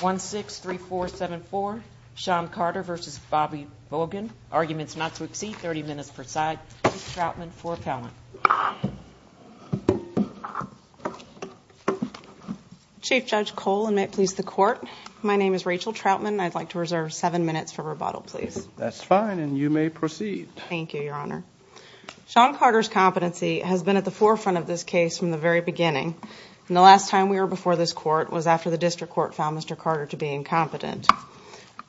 1-6-3-4-7-4. Sean Carter versus Bobby Bogan. Arguments not to exceed 30 minutes per side. Chief Troutman for appellant. Chief Judge Cole and may it please the Court, my name is Rachel Troutman and I'd like to reserve seven minutes for rebuttal, please. That's fine and you may proceed. Thank you, Your Honor. Sean Carter's competency has been at the forefront of this case from the very beginning. The last time we were before this Court was after the District Court found Mr. Carter to be incompetent.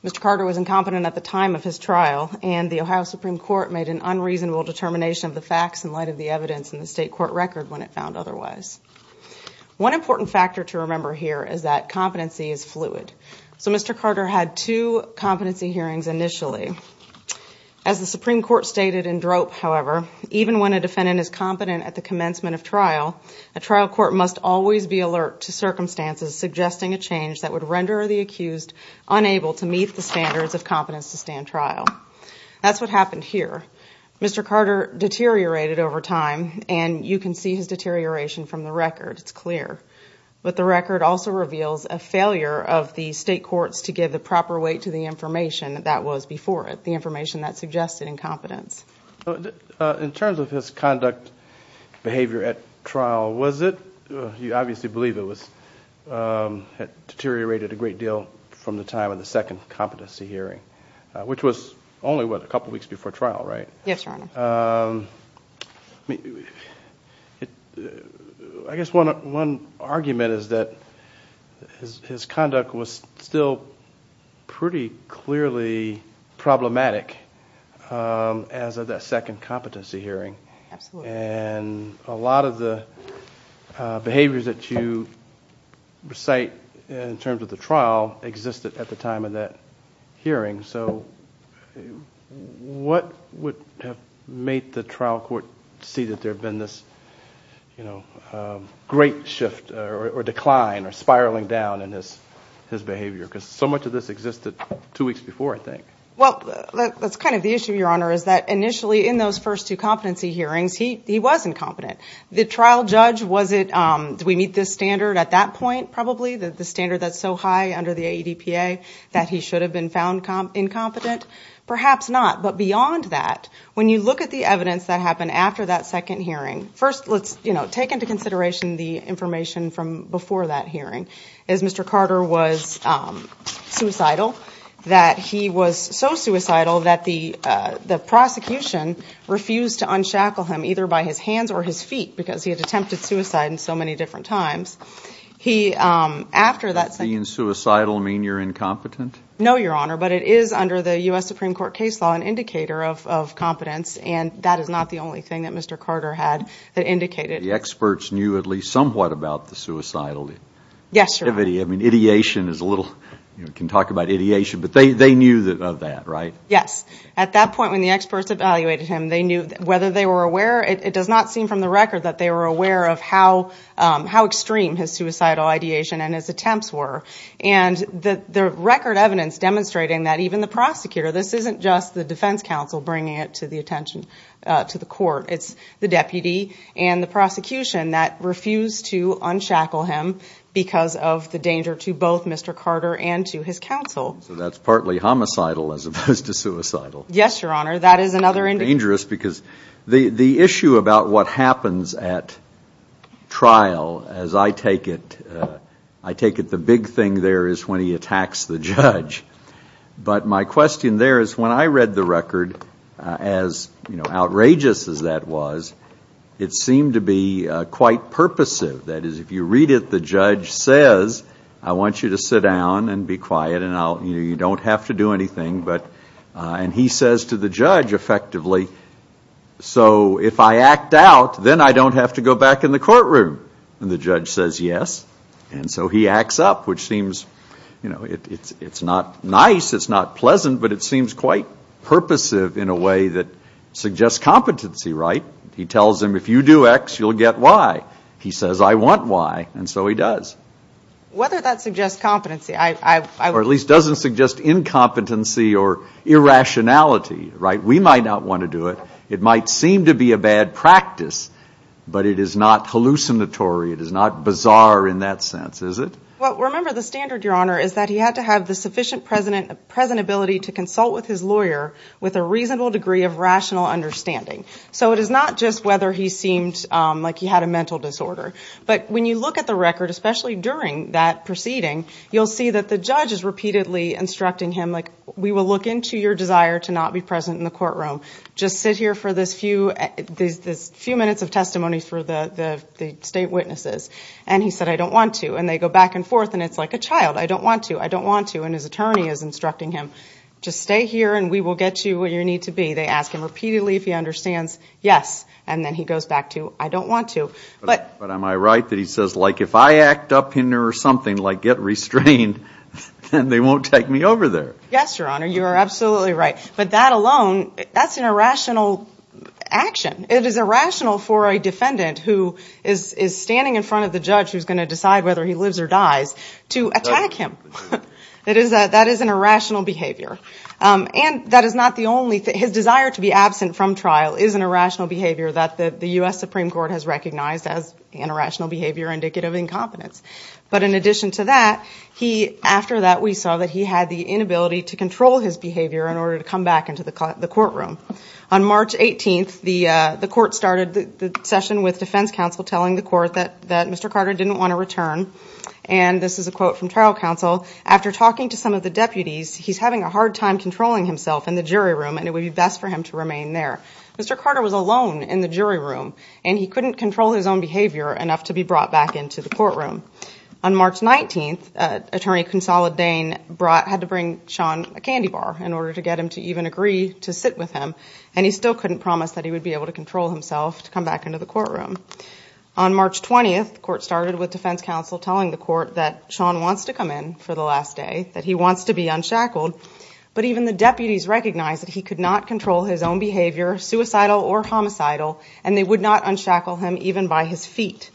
Mr. Carter was incompetent at the time of his trial and the Ohio Supreme Court made an unreasonable determination of the facts in light of the evidence in the state court record when it found otherwise. One important factor to remember here is that competency is fluid. So Mr. Carter had two competency hearings initially. As the Supreme Court stated in drope, however, even when a defendant is competent at the commencement of trial, a trial court must always be alert to circumstances suggesting a change that would render the accused unable to meet the standards of competence to stand trial. That's what happened here. Mr. Carter deteriorated over time and you can see his deterioration from the record, it's clear. But the record also reveals a failure of the state courts to give the proper weight to the information that was before it, the information that suggested incompetence. In terms of his conduct, behavior at trial, was it, you obviously believe it was, deteriorated a great deal from the time of the second competency hearing, which was only, what, a couple weeks before trial, right? Yes, Your Honor. I guess one argument is that his conduct was still pretty clearly problematic as of that second competency hearing. Absolutely. And a lot of the behaviors that you recite in terms of the trial existed at the time of that hearing. So what would have made the trial court see that there had been this great shift or decline or spiraling down in his behavior? Because so much of this existed two weeks before, I think. Well, that's kind of the issue, Your Honor, is that initially in those first two competency hearings, he was incompetent. The trial judge, was it, did we meet this standard at that point, probably? The standard that's so high under the AEDPA that he should have been found incompetent? Perhaps not. But beyond that, when you look at the evidence that happened after that second hearing, first let's, you know, take into consideration the information from before that hearing. As Mr. Carter was suicidal, that he was so suicidal that the prosecution refused to unshackle him, either by his hands or his feet, because he had attempted suicide in so many different times. He, after that second- Does being suicidal mean you're incompetent? No, Your Honor, but it is under the U.S. Supreme Court case law an indicator of competence, and that is not the only thing that Mr. Carter had that indicated- The experts knew at least somewhat about the suicidal. Yes, Your Honor. I mean, ideation is a little, you know, we can talk about ideation, but they knew of that, right? Yes. At that point when the experts evaluated him, they knew whether they were aware, it does not seem from the record that they were aware of how extreme his suicidal ideation and his attempts were. And the record evidence demonstrating that even the prosecutor, this isn't just the defense counsel bringing it to the attention, to the court, it's the deputy and the prosecution that refused to unshackle him because of the danger to both Mr. Carter and to his counsel. So that's partly homicidal as opposed to suicidal. Yes, Your Honor, that is another indicator- But my question there is when I read the record, as outrageous as that was, it seemed to be quite purposive. That is, if you read it, the judge says, I want you to sit down and be quiet and you don't have to do anything, and he says to the judge effectively, so if I act out, then I don't have to go back in the courtroom. And the judge says yes, and so he acts up, which seems, you know, it's not nice, it's not pleasant, but it seems quite purposive in a way that suggests competency, right? He tells him, if you do X, you'll get Y. He says, I want Y, and so he does. Whether that suggests competency, I- Or at least doesn't suggest incompetency or irrationality, right? We might not want to do it. It might seem to be a bad practice, but it is not hallucinatory, it is not bizarre in that sense, is it? Well, remember, the standard, Your Honor, is that he had to have the sufficient present ability to consult with his lawyer with a reasonable degree of rational understanding. So it is not just whether he seemed like he had a mental disorder, but when you look at the record, especially during that proceeding, you'll see that the judge is repeatedly instructing him, like, we will look into your desire to not be present in the courtroom. Just sit here for this few minutes of testimony for the state witnesses. And he said, I don't want to. And they go back and forth, and it's like a child. I don't want to. I don't want to. And his attorney is instructing him, just stay here, and we will get you where you need to be. They ask him repeatedly if he understands, yes, and then he goes back to, I don't want to. But am I right that he says, like, if I act up in there or something, like get restrained, then they won't take me over there? Yes, Your Honor, you are absolutely right. But that alone, that's an irrational action. It is irrational for a defendant who is standing in front of the judge who is going to decide whether he lives or dies to attack him. That is an irrational behavior. And that is not the only thing. His desire to be absent from trial is an irrational behavior that the U.S. Supreme Court has recognized as an irrational behavior indicative of incompetence. But in addition to that, after that we saw that he had the inability to control his behavior in order to come back into the courtroom. On March 18th, the court started the session with defense counsel telling the court that Mr. Carter didn't want to return. And this is a quote from trial counsel. After talking to some of the deputies, he's having a hard time controlling himself in the jury room, and it would be best for him to remain there. Mr. Carter was alone in the jury room, and he couldn't control his own behavior enough to be brought back into the courtroom. On March 19th, Attorney Consolidain had to bring Sean a candy bar in order to get him to even agree to sit with him, and he still couldn't promise that he would be able to control himself to come back into the courtroom. On March 20th, the court started with defense counsel telling the court that Sean wants to come in for the last day, that he wants to be unshackled. But even the deputies recognized that he could not control his own behavior, suicidal or homicidal, and they would not unshackle him even by his feet.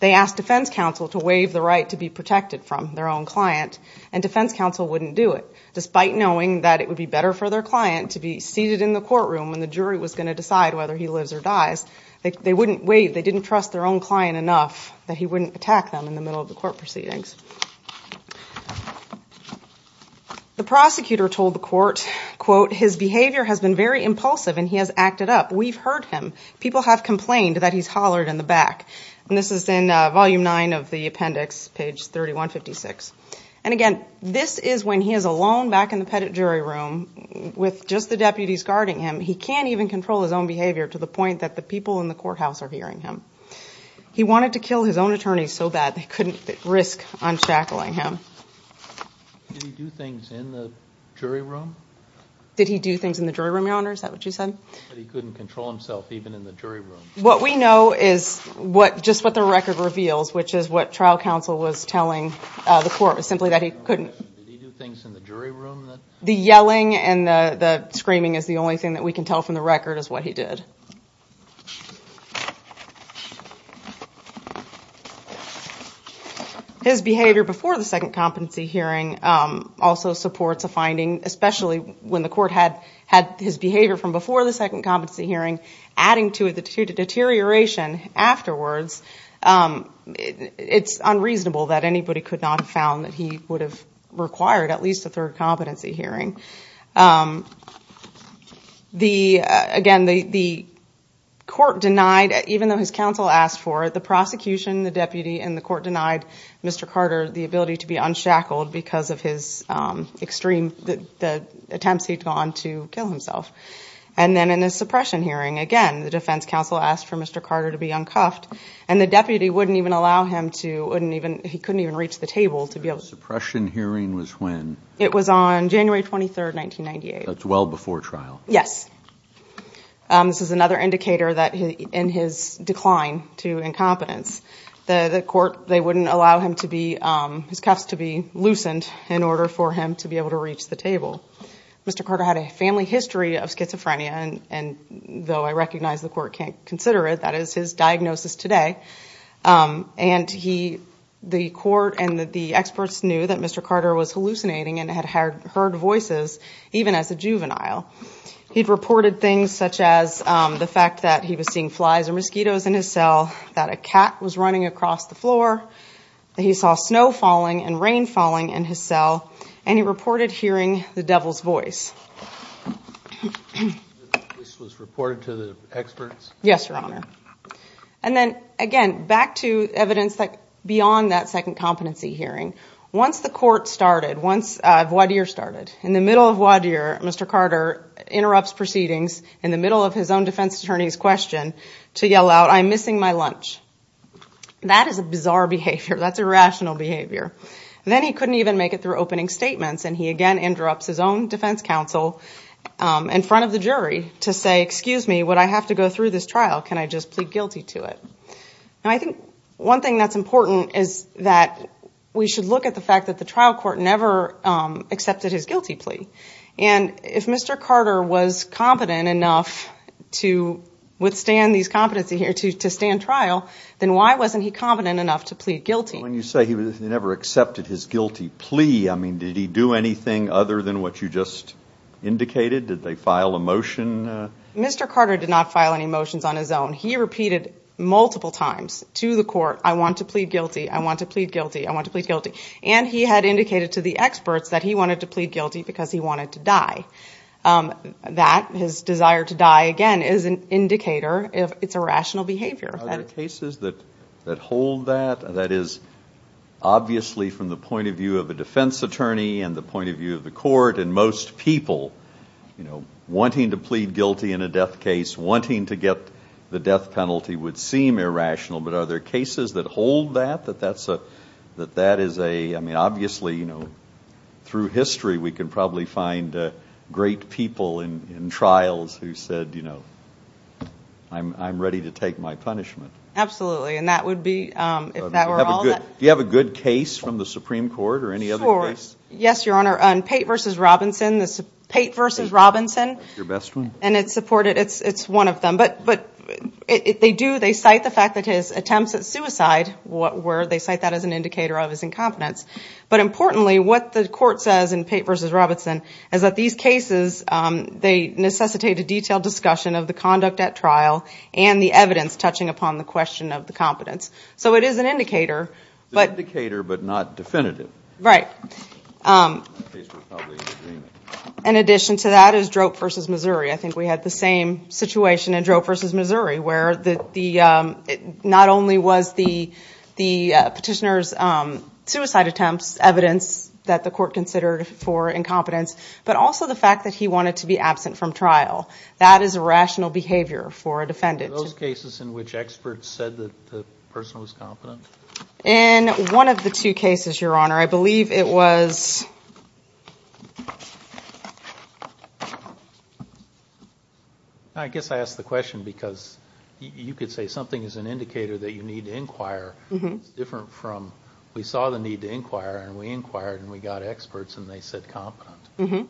They asked defense counsel to waive the right to be protected from their own client, and defense counsel wouldn't do it. Despite knowing that it would be better for their client to be seated in the courtroom when the jury was going to decide whether he lives or dies, they didn't trust their own client enough that he wouldn't attack them in the middle of the court proceedings. The prosecutor told the court, quote, his behavior has been very impulsive and he has acted up. We've heard him. People have complained that he's hollered in the back. And this is in Volume 9 of the appendix, page 3156. And again, this is when he is alone back in the jury room with just the deputies guarding him. He can't even control his own behavior to the point that the people in the courthouse are hearing him. He wanted to kill his own attorneys so bad they couldn't risk unshackling him. Did he do things in the jury room? Did he do things in the jury room, Your Honor? Is that what you said? That he couldn't control himself even in the jury room. What we know is just what the record reveals, which is what trial counsel was telling the court, was simply that he couldn't. Did he do things in the jury room? The yelling and the screaming is the only thing that we can tell from the record is what he did. His behavior before the second competency hearing also supports a finding, especially when the court had his behavior from before the second competency hearing, adding to it the deterioration afterwards. It's unreasonable that anybody could not have found that he would have required at least a third competency hearing. Again, the court denied, even though his counsel asked for it, the prosecution, the deputy, and the court denied Mr. Carter the ability to be unshackled because of the attempts he'd gone to kill himself. And then in the suppression hearing, again, the defense counsel asked for Mr. Carter to be uncuffed and the deputy wouldn't even allow him to, he couldn't even reach the table to be able to- The suppression hearing was when? It was on January 23, 1998. That's well before trial. Yes. This is another indicator in his decline to incompetence. The court, they wouldn't allow his cuffs to be loosened in order for him to be able to reach the table. Mr. Carter had a family history of schizophrenia, and though I recognize the court can't consider it, that is his diagnosis today, and the court and the experts knew that Mr. Carter was hallucinating and had heard voices even as a juvenile. He'd reported things such as the fact that he was seeing flies and mosquitoes in his cell, that a cat was running across the floor, that he saw snow falling and rain falling in his cell, and he reported hearing the devil's voice. This was reported to the experts? Yes, Your Honor. And then, again, back to evidence beyond that second competency hearing. Once the court started, once voir dire started, in the middle of voir dire, Mr. Carter interrupts proceedings in the middle of his own defense attorney's question to yell out, I'm missing my lunch. That is a bizarre behavior. That's irrational behavior. Then he couldn't even make it through opening statements, and he again interrupts his own defense counsel in front of the jury to say, excuse me, would I have to go through this trial? Can I just plead guilty to it? And I think one thing that's important is that we should look at the fact that the trial court never accepted his guilty plea. And if Mr. Carter was competent enough to withstand these competency hearings, to stand trial, then why wasn't he competent enough to plead guilty? When you say he never accepted his guilty plea, I mean, did he do anything other than what you just indicated? Did they file a motion? Mr. Carter did not file any motions on his own. He repeated multiple times to the court, I want to plead guilty, I want to plead guilty, I want to plead guilty. And he had indicated to the experts that he wanted to plead guilty because he wanted to die. That, his desire to die, again, is an indicator of irrational behavior. Are there cases that hold that? That is obviously from the point of view of a defense attorney and the point of view of the court and most people, you know, wanting to plead guilty in a death case, wanting to get the death penalty would seem irrational. But are there cases that hold that, that that is a, I mean, obviously, you know, through history, we can probably find great people in trials who said, you know, I'm ready to take my punishment. Absolutely. And that would be, if that were all that. Do you have a good case from the Supreme Court or any other case? Yes, Your Honor. Pate v. Robinson, Pate v. Robinson. Your best one? And it's supported, it's one of them. But they do, they cite the fact that his attempts at suicide, where they cite that as an indicator of his incompetence. But importantly, what the court says in Pate v. Robinson is that these cases, they necessitate a detailed discussion of the conduct at trial and the evidence touching upon the question of the competence. So it is an indicator. It's an indicator but not definitive. Right. In that case, we're probably in agreement. In addition to that is Drope v. Missouri. I think we had the same situation in Drope v. Missouri, where the, not only was the petitioner's suicide attempts evidence that the court considered for incompetence, but also the fact that he wanted to be absent from trial. That is irrational behavior for a defendant. Are those cases in which experts said that the person was competent? In one of the two cases, Your Honor, I believe it was. I guess I asked the question because you could say something is an indicator that you need to inquire. It's different from we saw the need to inquire and we inquired and we got experts and they said competent.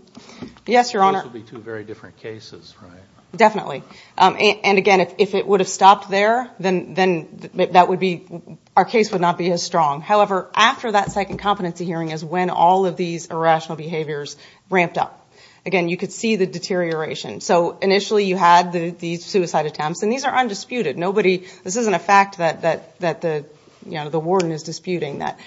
Yes, Your Honor. Those would be two very different cases, right? Definitely. Again, if it would have stopped there, then our case would not be as strong. However, after that second competency hearing is when all of these irrational behaviors ramped up. Again, you could see the deterioration. So initially you had these suicide attempts, and these are undisputed. This isn't a fact that the warden is disputing, that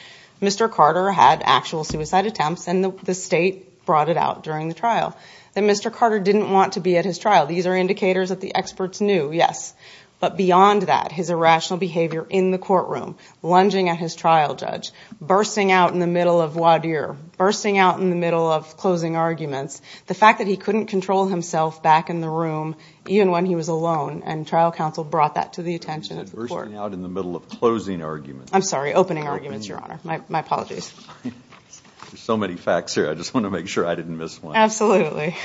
Mr. Carter had actual suicide attempts and the state brought it out during the trial, that Mr. Carter didn't want to be at his trial. These are indicators that the experts knew, yes. But beyond that, his irrational behavior in the courtroom, lunging at his trial judge, bursting out in the middle of voir dire, bursting out in the middle of closing arguments, the fact that he couldn't control himself back in the room even when he was alone, and trial counsel brought that to the attention of the court. Bursting out in the middle of closing arguments. I'm sorry, opening arguments, Your Honor. My apologies. There's so many facts here. I just want to make sure I didn't miss one. Absolutely.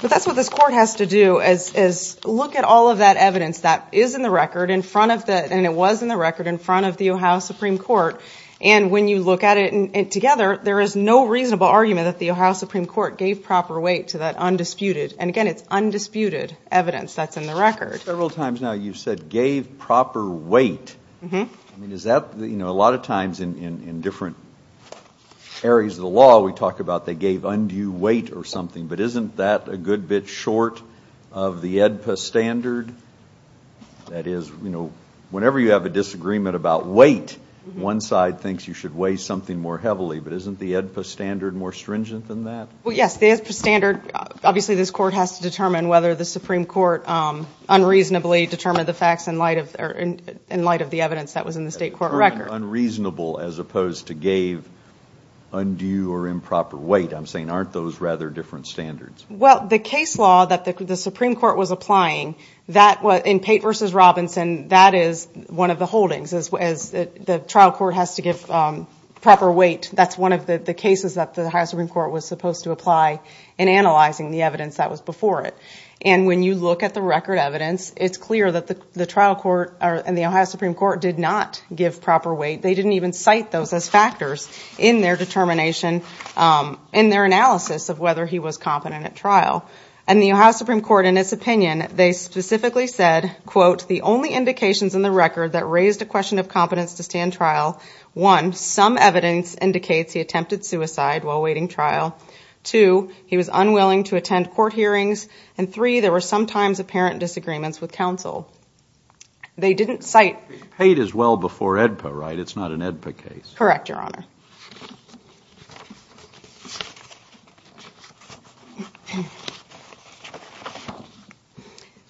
But that's what this court has to do, is look at all of that evidence that is in the record, and it was in the record, in front of the Ohio Supreme Court, and when you look at it together, there is no reasonable argument that the Ohio Supreme Court gave proper weight to that undisputed, and again, it's undisputed evidence that's in the record. Several times now you've said gave proper weight. I mean, is that, you know, a lot of times in different areas of the law, we talk about they gave undue weight or something, but isn't that a good bit short of the AEDPA standard? That is, you know, whenever you have a disagreement about weight, one side thinks you should weigh something more heavily, but isn't the AEDPA standard more stringent than that? Well, yes, the AEDPA standard, obviously this court has to determine whether the Supreme Court unreasonably determined the facts in light of the evidence that was in the state court record. Unreasonable as opposed to gave undue or improper weight, I'm saying aren't those rather different standards? Well, the case law that the Supreme Court was applying, in Pate v. Robinson, that is one of the holdings, is the trial court has to give proper weight. That's one of the cases that the Ohio Supreme Court was supposed to apply in analyzing the evidence that was before it. And when you look at the record evidence, it's clear that the trial court and the Ohio Supreme Court did not give proper weight. They didn't even cite those as factors in their determination, in their analysis of whether he was competent at trial. And the Ohio Supreme Court, in its opinion, they specifically said, quote, the only indications in the record that raised a question of competence to stand trial, one, some evidence indicates he attempted suicide while awaiting trial. Two, he was unwilling to attend court hearings. And three, there were sometimes apparent disagreements with counsel. They didn't cite... Pate is well before AEDPA, right? It's not an AEDPA case. Correct, Your Honor.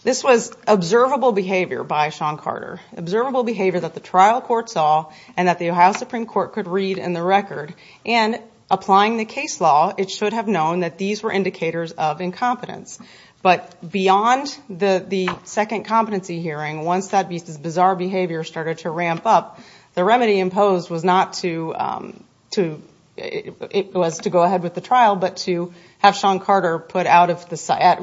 This was observable behavior by Sean Carter, observable behavior that the trial court saw, and that the Ohio Supreme Court could read in the record. And applying the case law, it should have known that these were indicators of incompetence. But beyond the second competency hearing, once that bizarre behavior started to ramp up, the remedy imposed was not to... it was to go ahead with the trial, but to have Sean Carter put out of the...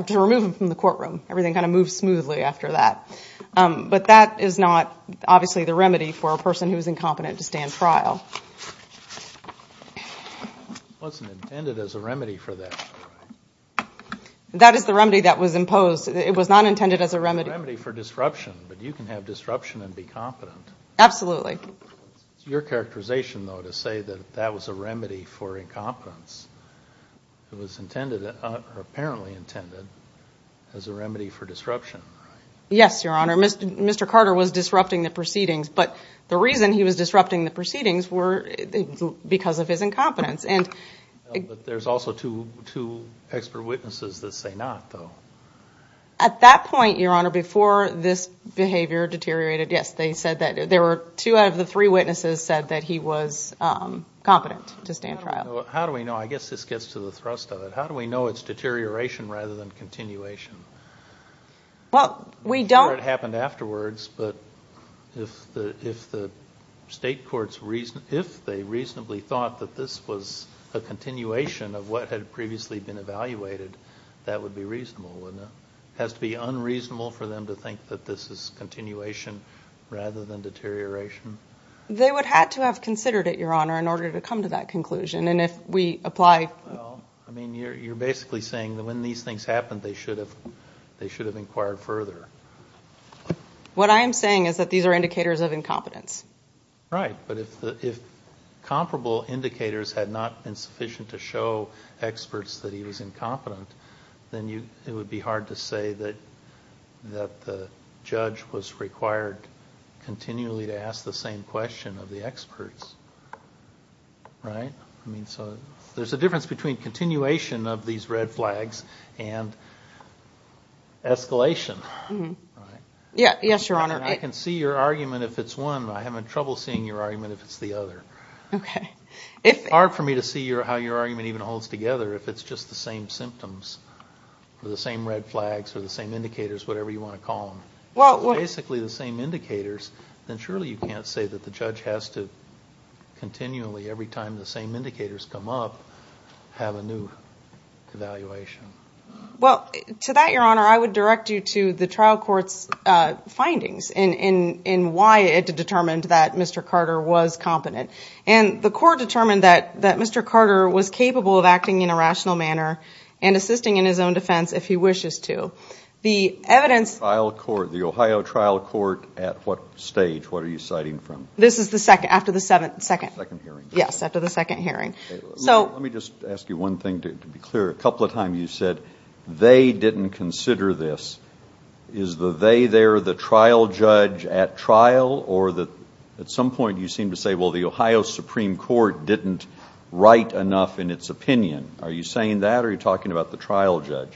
to remove him from the courtroom. Everything kind of moved smoothly after that. But that is not, obviously, the remedy for a person who is incompetent to stand trial. It wasn't intended as a remedy for that, right? That is the remedy that was imposed. It was not intended as a remedy. It was a remedy for disruption, but you can have disruption and be competent. Absolutely. It's your characterization, though, to say that that was a remedy for incompetence. It was intended, or apparently intended, as a remedy for disruption, right? Yes, Your Honor. Mr. Carter was disrupting the proceedings, but the reason he was disrupting the proceedings were because of his incompetence. But there's also two expert witnesses that say not, though. At that point, Your Honor, before this behavior deteriorated, yes, they said that. There were two out of the three witnesses said that he was competent to stand trial. How do we know? I guess this gets to the thrust of it. How do we know it's deterioration rather than continuation? Well, we don't... I'm sure it happened afterwards, but if the state courts reasonably thought that this was a continuation of what had previously been evaluated, that would be reasonable, wouldn't it? It has to be unreasonable for them to think that this is continuation rather than deterioration. They would have to have considered it, Your Honor, in order to come to that conclusion, and if we apply... Well, I mean, you're basically saying that when these things happened, they should have inquired further. What I am saying is that these are indicators of incompetence. Right, but if comparable indicators had not been sufficient to show experts that he was incompetent, then it would be hard to say that the judge was required continually to ask the same question of the experts, right? I mean, so there's a difference between continuation of these red flags and escalation, right? Yes, Your Honor. I can see your argument if it's one. I have trouble seeing your argument if it's the other. Okay. It's hard for me to see how your argument even holds together if it's just the same symptoms or the same red flags or the same indicators, whatever you want to call them. Well... Basically the same indicators, then surely you can't say that the judge has to continually, every time the same indicators come up, have a new evaluation. Well, to that, Your Honor, I would direct you to the trial court's findings and why it determined that Mr. Carter was competent. And the court determined that Mr. Carter was capable of acting in a rational manner and assisting in his own defense if he wishes to. The evidence... The Ohio trial court at what stage? What are you citing from? This is after the second hearing. Yes, after the second hearing. Let me just ask you one thing to be clear. A couple of times you said, they didn't consider this. Is the they there the trial judge at trial? Or at some point you seem to say, well, the Ohio Supreme Court didn't write enough in its opinion. Are you saying that or are you talking about the trial judge?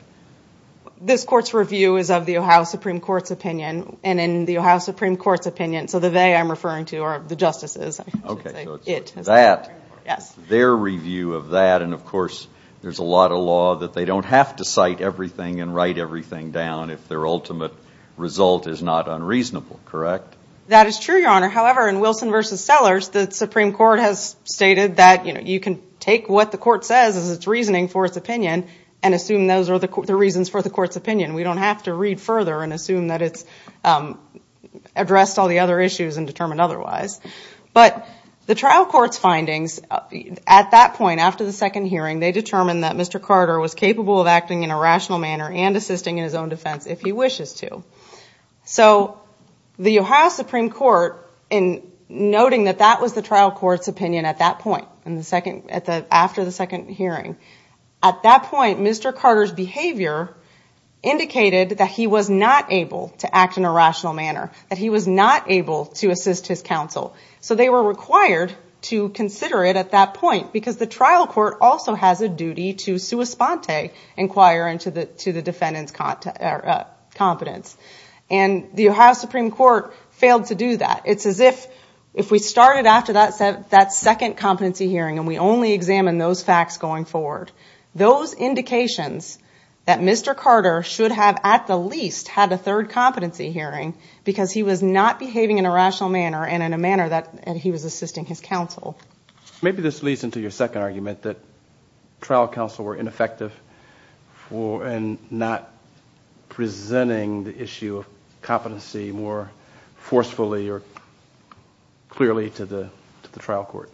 This court's review is of the Ohio Supreme Court's opinion and in the Ohio Supreme Court's opinion. So the they I'm referring to are the justices. Okay, so it's that, their review of that, and of course there's a lot of law that they don't have to cite everything and write everything down if their ultimate result is not unreasonable, correct? That is true, Your Honor. However, in Wilson v. Sellers, the Supreme Court has stated that, you know, you can take what the court says as its reasoning for its opinion and assume those are the reasons for the court's opinion. We don't have to read further and assume that it's addressed all the other issues and determined otherwise. But the trial court's findings at that point, after the second hearing, they determined that Mr. Carter was capable of acting in a rational manner and assisting in his own defense if he wishes to. So the Ohio Supreme Court, in noting that that was the trial court's opinion at that point, after the second hearing, at that point Mr. Carter's behavior indicated that he was not able to act in a rational manner, that he was not able to assist his counsel. So they were required to consider it at that point because the trial court also has a duty to sua sponte, inquire into the defendant's competence. And the Ohio Supreme Court failed to do that. It's as if, if we started after that second competency hearing and we only examined those facts going forward, those indications that Mr. Carter should have, at the least, had a third competency hearing because he was not behaving in a rational manner and in a manner that he was assisting his counsel. Maybe this leads into your second argument, that trial counsel were ineffective in not presenting the issue of competency more forcefully or clearly to the trial court.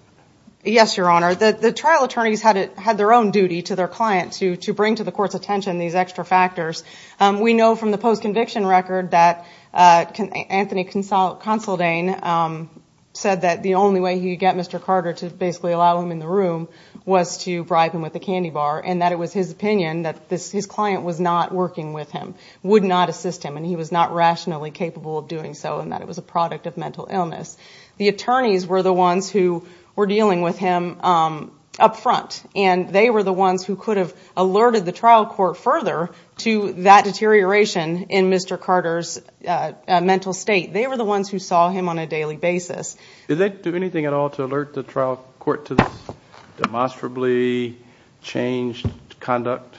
Yes, Your Honor. The trial attorneys had their own duty to their client to bring to the court's attention these extra factors. We know from the post-conviction record that Anthony Consaldane said that the only way he could get Mr. Carter to basically allow him in the room was to bribe him with a candy bar and that it was his opinion that his client was not working with him, would not assist him, and he was not rationally capable of doing so and that it was a product of mental illness. The attorneys were the ones who were dealing with him up front and they were the ones who could have alerted the trial court further to that deterioration in Mr. Carter's mental state. They were the ones who saw him on a daily basis. Did they do anything at all to alert the trial court to this demonstrably changed conduct?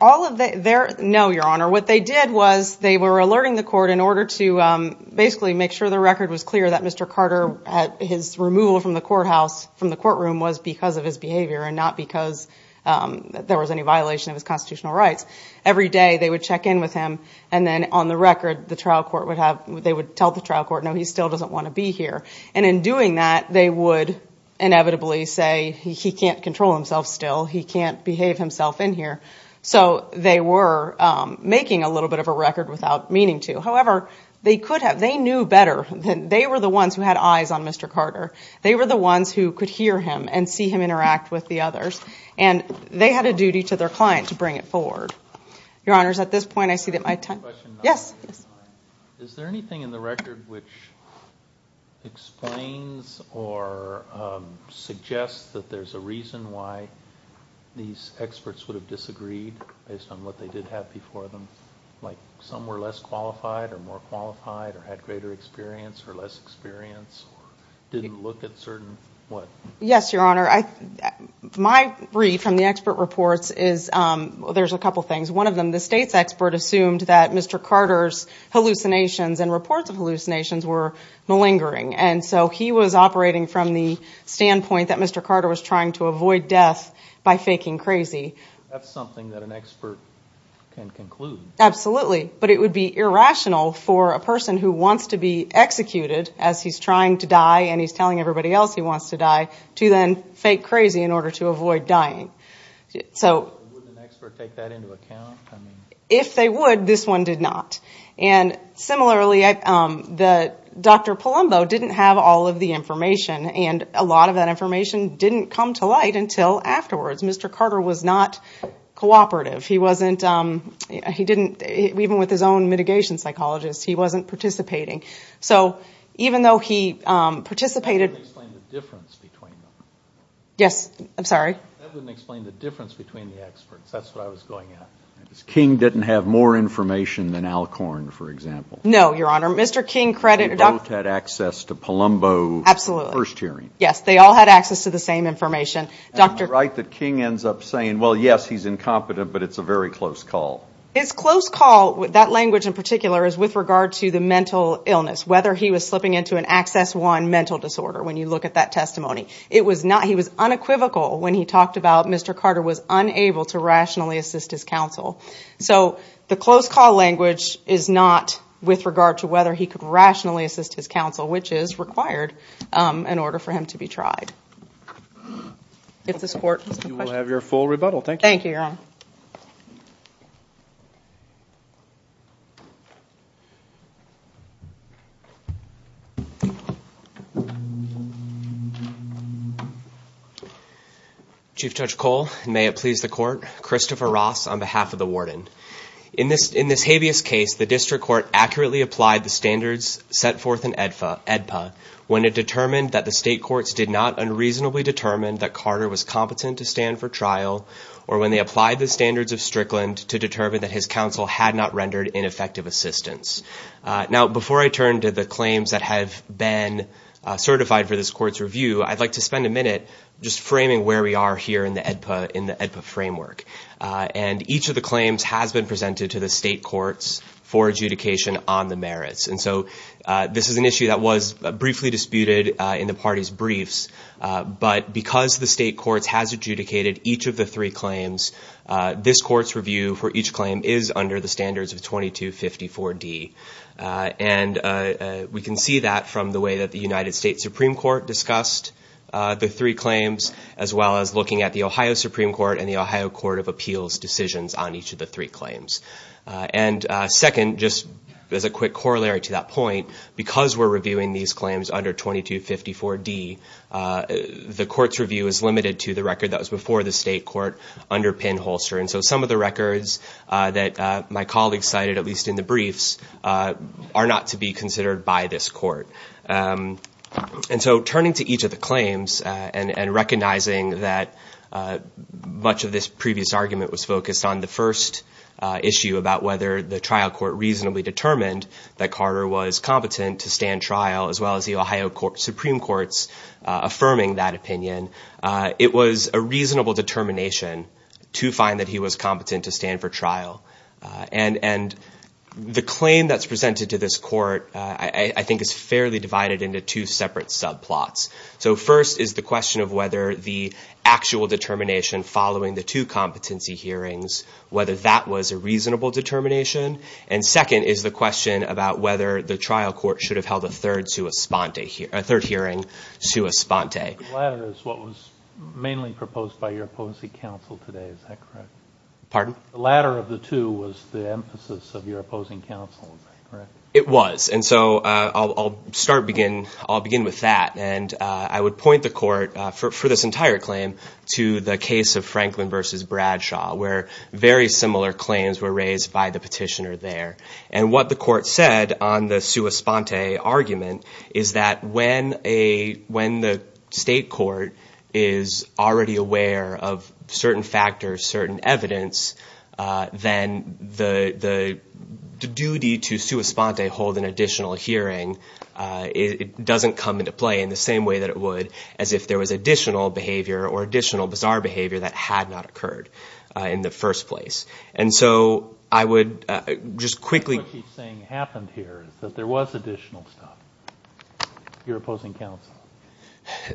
No, Your Honor. What they did was they were alerting the court in order to basically make sure the record was clear that Mr. Carter, his removal from the courthouse, from the courtroom was because of his behavior and not because there was any violation of his constitutional rights. Every day they would check in with him and then on the record they would tell the trial court no, he still doesn't want to be here. And in doing that they would inevitably say he can't control himself still, he can't behave himself in here. So they were making a little bit of a record without meaning to. However, they knew better. They were the ones who had eyes on Mr. Carter. They were the ones who could hear him and see him interact with the others. And they had a duty to their client to bring it forward. Your Honors, at this point I see that my time... Yes. Is there anything in the record which explains or suggests that there's a reason why these experts would have disagreed based on what they did have before them? Like some were less qualified or more qualified or had greater experience or less experience or didn't look at certain... Yes, Your Honor. My read from the expert reports is... There's a couple things. One of them, the state's expert assumed that Mr. Carter's hallucinations and reports of hallucinations were malingering. And so he was operating from the standpoint that Mr. Carter was trying to avoid death by faking crazy. That's something that an expert can conclude. Absolutely. But it would be irrational for a person who wants to be executed as he's trying to die and he's telling everybody else he wants to die to then fake crazy in order to avoid dying. Would an expert take that into account? If they would, this one did not. And similarly, Dr. Palumbo didn't have all of the information. And a lot of that information didn't come to light until afterwards. Mr. Carter was not cooperative. He didn't, even with his own mitigation psychologist, he wasn't participating. So even though he participated... That wouldn't explain the difference between them. Yes, I'm sorry? That wouldn't explain the difference between the experts. That's what I was going at. King didn't have more information than Alcorn, for example. No, Your Honor. They both had access to Palumbo's first hearing. Yes, they all had access to the same information. Am I right that King ends up saying, well, yes, he's incompetent, but it's a very close call? His close call, that language in particular, is with regard to the mental illness, whether he was slipping into an Access One mental disorder, when you look at that testimony. He was unequivocal when he talked about Mr. Carter was unable to rationally assist his counsel. So the close call language is not with regard to whether he could rationally assist his counsel, which is required in order for him to be tried. If this Court has no questions. Thank you, Your Honor. Chief Judge Cole, may it please the Court. Christopher Ross on behalf of the Warden. In this habeas case, the District Court accurately applied the standards set forth in AEDPA when it determined that the state courts did not unreasonably determine that Carter was competent to stand for trial, or when they applied the standards of Strickland to determine that his counsel had not rendered ineffective assistance. Now, before I turn to the claims that have been certified for this Court's review, I'd like to spend a minute just framing where we are here in the AEDPA framework. And each of the claims has been presented to the state courts for adjudication on the merits. And so this is an issue that was briefly disputed in the party's briefs, but because the state courts has adjudicated each of the three claims, this Court's review for each claim is under the standards of 2254D. And we can see that from the way that the United States Supreme Court discussed the three claims, as well as looking at the Ohio Supreme Court and the Ohio Court of Appeals decisions on each of the three claims. And second, just as a quick corollary to that point, because we're reviewing these claims under 2254D, the Court's review is limited to the record that was before the state court under Penn Holster. And so some of the records that my colleagues cited, at least in the briefs, are not to be considered by this Court. And so turning to each of the claims and recognizing that much of this previous argument was focused on the first issue about whether the trial court reasonably determined that Carter was competent to stand trial, as well as the Ohio Supreme Court's affirming that opinion. It was a reasonable determination to find that he was competent to stand for trial. And the claim that's presented to this Court, I think, is fairly divided into two separate subplots. So first is the question of whether the actual determination following the two competency hearings, whether that was a reasonable determination. And second is the question about whether the trial court should have held a third hearing sua sponte. The latter is what was mainly proposed by your opposing counsel today, is that correct? The latter of the two was the emphasis of your opposing counsel, is that correct? It was. And so I'll begin with that. And I would point the Court, for this entire claim, to the case of Franklin v. Bradshaw, where very similar claims were raised by the petitioner there. And what the Court said on the sua sponte argument is that when the state court is already aware of certain factors, certain evidence, then the duty to sua sponte hold an additional hearing, it doesn't come into play in the same way that it would as if there was additional behavior or additional bizarre behavior that had not occurred in the first place. And so I would just quickly... What she's saying happened here is that there was additional stuff. Your opposing counsel.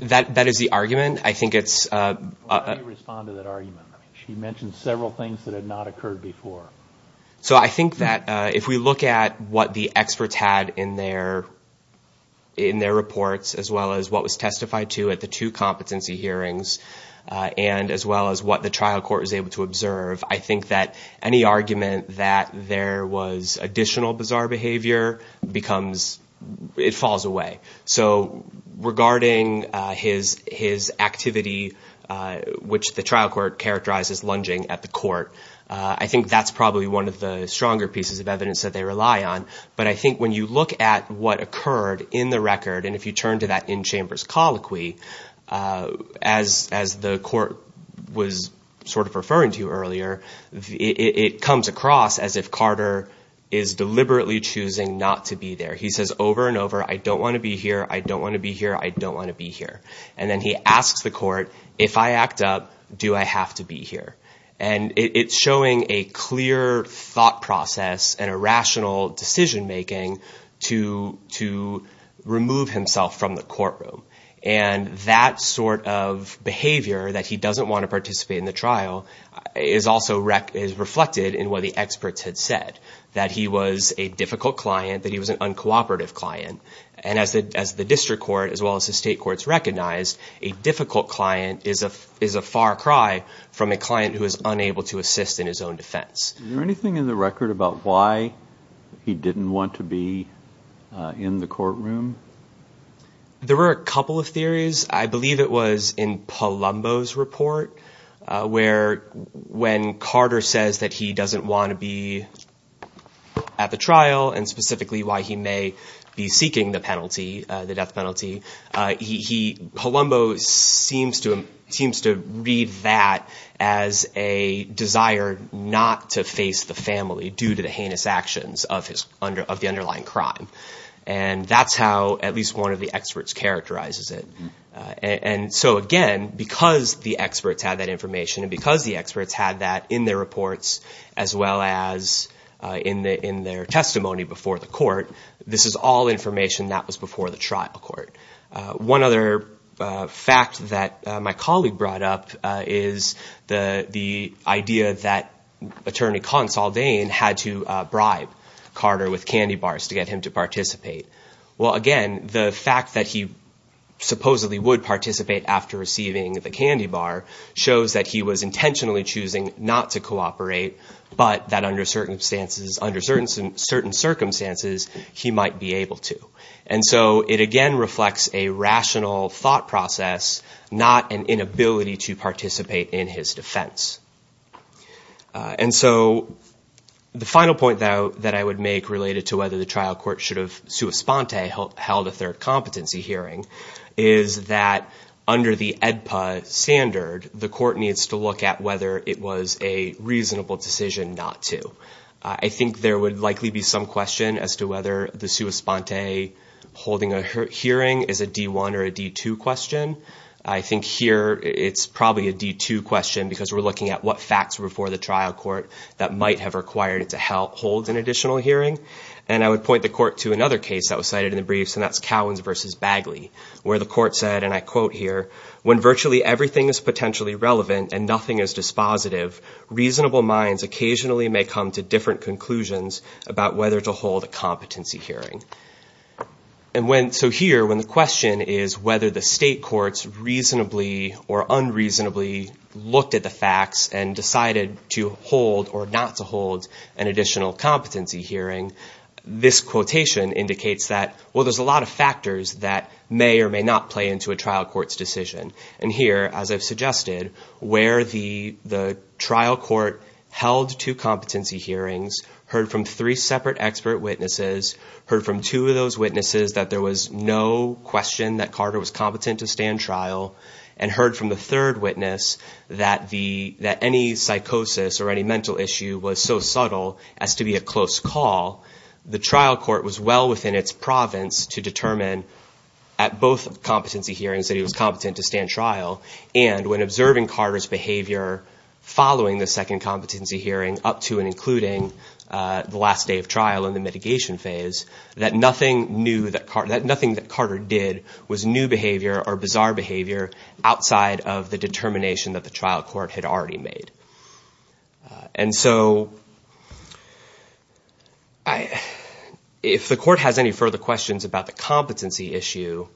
That is the argument. Why don't you respond to that argument? She mentioned several things that had not occurred before. So I think that if we look at what the experts had in their reports, as well as what was testified to at the two competency hearings, and as well as what the trial court was able to observe, I think that any argument that there was additional bizarre behavior becomes... Regarding his activity, which the trial court characterized as lunging at the court, I think that's probably one of the stronger pieces of evidence that they rely on. But I think when you look at what occurred in the record, and if you turn to that in-chambers colloquy, as the court was sort of referring to earlier, it comes across as if Carter is deliberately choosing not to be there. He says over and over, I don't want to be here, I don't want to be here, I don't want to be here. And then he asks the court, if I act up, do I have to be here? And it's showing a clear thought process and a rational decision-making to remove himself from the courtroom. And that sort of behavior, that he doesn't want to participate in the trial, is also reflected in what the experts had said, that he was a difficult client, that he was an uncooperative client. And as the district court, as well as the state courts recognized, a difficult client is a far cry from a client who is unable to assist in his own defense. Is there anything in the record about why he didn't want to be in the courtroom? There were a couple of theories. I believe it was in Palumbo's report, where when Carter says that he doesn't want to be at the trial, and specifically why he may be seeking the penalty, the death penalty, Palumbo seems to read that as a desire not to face the family due to the heinous actions of the underlying crime. And that's how at least one of the experts characterizes it. And so again, because the experts had that information, and because the experts had that in their reports, as well as in their testimony before the court, this is all information that was before the trial court. One other fact that my colleague brought up is the idea that Attorney Consoldeen had to bribe Carter with candy bars to get him to participate. Well again, the fact that he supposedly would participate after receiving the candy bar shows that he was intentionally choosing not to cooperate, but that under certain circumstances he might be able to. And so it again reflects a rational thought process, not an inability to participate in his defense. And so the final point that I would make related to whether the trial court should have held a third competency hearing is that under the AEDPA standard, the court needs to look at whether it was a reasonable decision not to. I think there would likely be some question as to whether the sua sponte holding a hearing is a D1 or a D2 question. I think here it's probably a D2 question because we're looking at what facts were before the trial court that might have required it to hold an additional hearing. And I would point the court to another case that was cited in the briefs and that's Cowens v. Bagley where the court said, and I quote here, when virtually everything is potentially relevant and nothing is dispositive, reasonable minds occasionally may come to different conclusions about whether to hold a competency hearing. So here when the question is whether the state courts reasonably or unreasonably looked at the facts and decided to hold or not to hold an additional competency hearing, this quotation indicates that, well, there's a lot of factors that may or may not play into a trial court's decision. And here, as I've suggested, where the trial court held two competency hearings, heard from three separate expert witnesses, heard from two of those witnesses that there was no question that Carter was competent to stand trial, and heard from the third witness that any psychosis or any mental issue was so subtle as to be a close call, the trial court was well within its province to determine at both competency hearings that he was competent to stand trial. And when observing Carter's behavior following the second competency hearing up to and including the last day of trial and the mitigation phase, that nothing that Carter did was new behavior or bizarre behavior outside of the determination that the trial court had already made. And so, if the court has any further questions about the competency issue,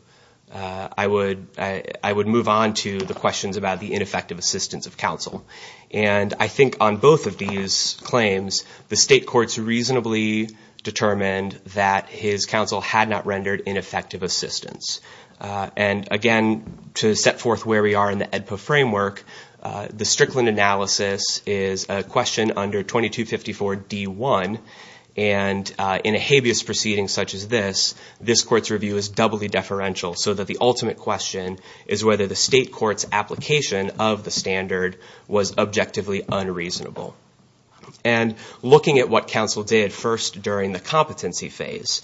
I would move on to the questions about the ineffective assistance of counsel. And I think on both of these claims, the state courts reasonably determined that his counsel had not rendered ineffective assistance. And again, to set forth where we are in the AEDPA framework, the Strickland analysis is a question under 2254 D1, and in a habeas proceeding such as this, this court's review is doubly deferential, so that the ultimate question is whether the state court's application of the standard was objectively unreasonable. And looking at what counsel did first during the competency phase,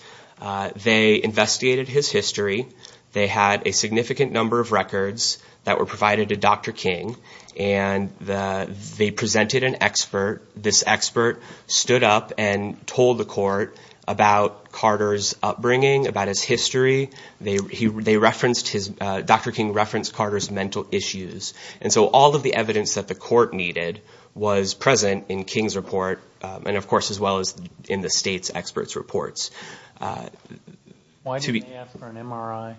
they investigated his history, they had a significant number of records that were provided to Dr. King, and they presented an expert. This expert stood up and told the court about Carter's upbringing, about his history. Dr. King referenced Carter's mental issues. And so all of the evidence that the court needed was present in King's report, and of course as well as in the state's experts' reports. Why did they ask for an MRI?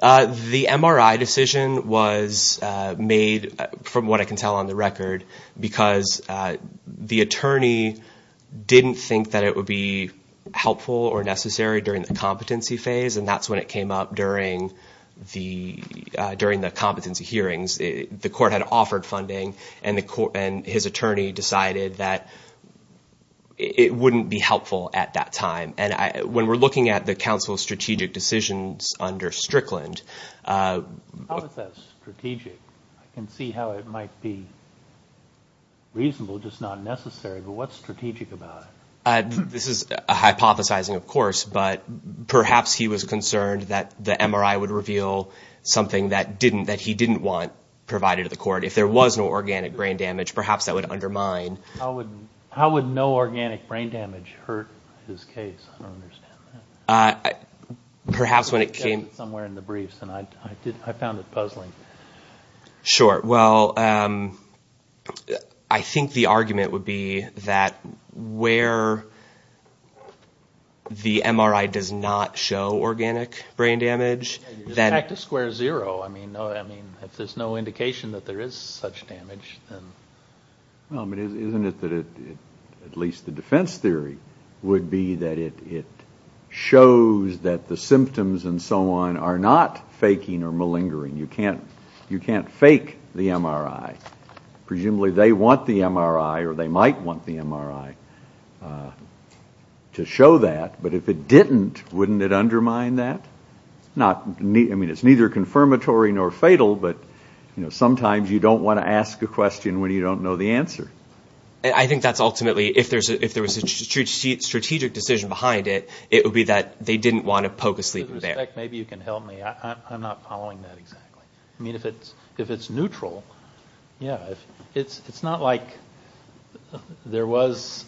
The MRI decision was made, from what I can tell on the record, because the attorney didn't think that it would be helpful or necessary during the competency phase, and that's when it came up during the competency hearings. The court had offered funding, and his attorney decided that it wouldn't be helpful at that time. And when we're looking at the counsel's strategic decisions under Strickland... How is that strategic? I can see how it might be reasonable, just not necessary, but what's strategic about it? This is hypothesizing, of course, but perhaps he was concerned that the MRI would reveal something that he didn't want provided to the court. If there was no organic brain damage, perhaps that would undermine... How would no organic brain damage hurt his case? I don't understand that. Perhaps when it came... I found it puzzling. Sure. Well, I think the argument would be that where the MRI does not show organic brain damage... It's a fact of square zero. If there's no indication that there is such damage, then... Isn't it that at least the defense theory would be that it shows that the symptoms and so on are not faking or malingering? You can't fake the MRI. Presumably they want the MRI, or they might want the MRI, to show that, but if it didn't, wouldn't it undermine that? It's neither confirmatory nor fatal, but sometimes you don't want to ask a question when you don't know the answer. I think that's ultimately... If there was a strategic decision behind it, it would be that they didn't want to poke a sleeping bear. Maybe you can help me. I'm not following that exactly. If it's neutral, it's not like there was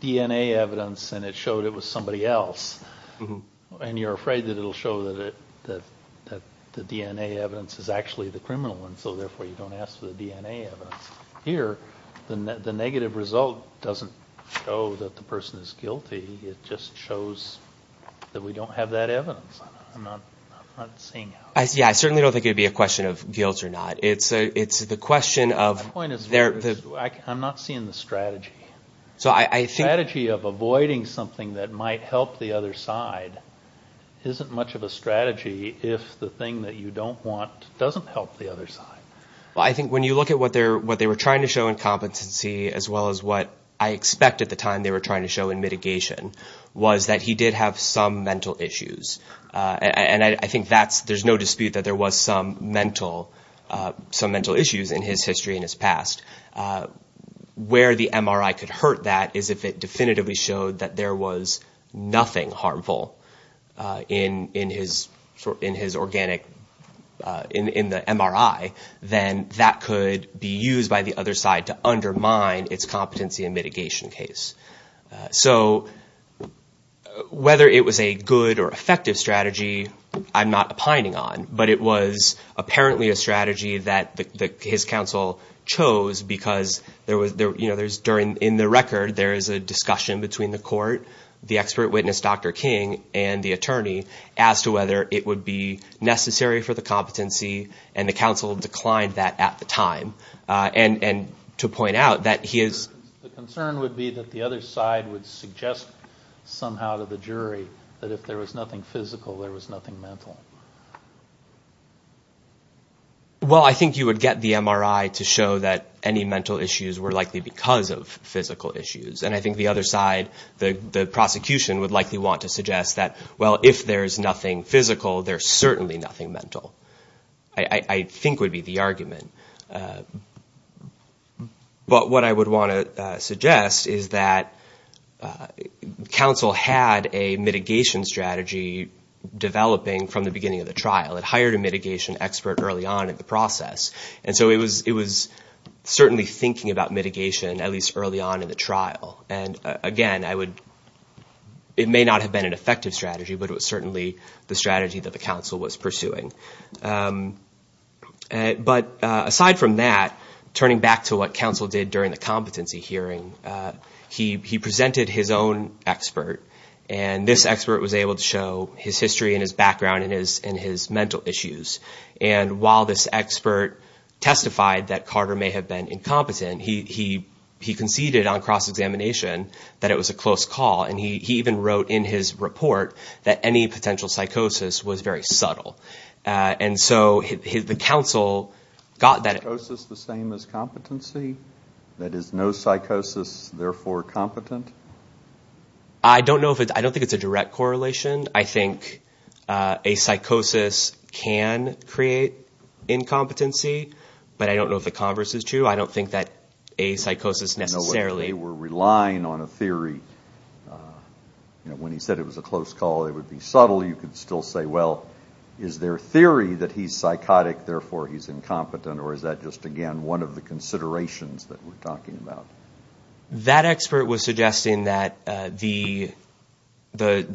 DNA evidence and it showed it was somebody else, and you're afraid that it'll show that the DNA evidence is actually the criminal one, so therefore you don't ask for the DNA evidence. Here, the negative result doesn't show that the person is guilty. It just shows that we don't have that evidence. I'm not seeing it. I certainly don't think it would be a question of guilt or not. It's the question of... I'm not seeing the strategy. The strategy of avoiding something that might help the other side isn't much of a strategy if the thing that you don't want doesn't help the other side. I think when you look at what they were trying to show in competency as well as what I expect at the time they were trying to show in mitigation was that he did have some mental issues. I think there's no dispute that there was some mental issues in his history and his past. Where the MRI could hurt that is if it definitively showed that there was nothing harmful in his organic... in the MRI, then that could be used by the other side to undermine its competency and mitigation case. So whether it was a good or effective strategy, I'm not opining on, but it was apparently a strategy that his counsel chose because in the record there is a discussion between the court, the expert witness, Dr. King, and the attorney as to whether it would be necessary for the competency and the counsel declined that at the time. And to point out that he is... The concern would be that the other side would suggest somehow to the jury that if there was nothing physical there was nothing mental. Well, I think you would get the MRI to show that any mental issues were likely because of physical issues. And I think the other side, the prosecution, would likely want to suggest that, well, if there's nothing physical, there's certainly nothing mental I think would be the argument. But what I would want to suggest is that counsel had a mitigation strategy developing from the beginning of the trial. It hired a mitigation expert early on in the process. And so it was certainly thinking about mitigation at least early on in the trial. And again, it may not have been an effective strategy, but it was certainly the strategy that the counsel was pursuing. But aside from that, turning back to what counsel did during the competency hearing, he presented his own expert and this expert was able to show his history and his background and his mental issues. And while this expert testified that Carter may have been incompetent, he conceded on cross-examination that it was a close call. And he even wrote in his report that any potential psychosis was very subtle. And so the counsel got that... Is psychosis the same as competency? That is, no psychosis, therefore competent? I don't know if it's... I don't think it's a direct correlation. I think a psychosis can create incompetency, but I don't know if the converse is true. I don't think that a psychosis necessarily... I don't know whether they were relying on a theory. When he said it was a close call, it would be subtle. You could still say, well, is there theory that he's psychotic, therefore he's incompetent, or is that just, again, one of the considerations that we're talking about? That expert was suggesting that the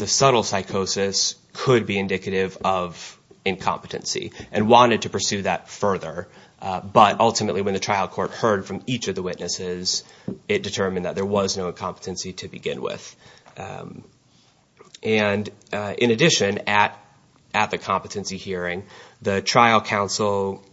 subtle psychosis could be indicative of incompetency and wanted to pursue that further. But ultimately, when the trial court heard from each of the witnesses, it determined that there was no incompetency to begin with. And in addition, at the competency hearing, the trial counsel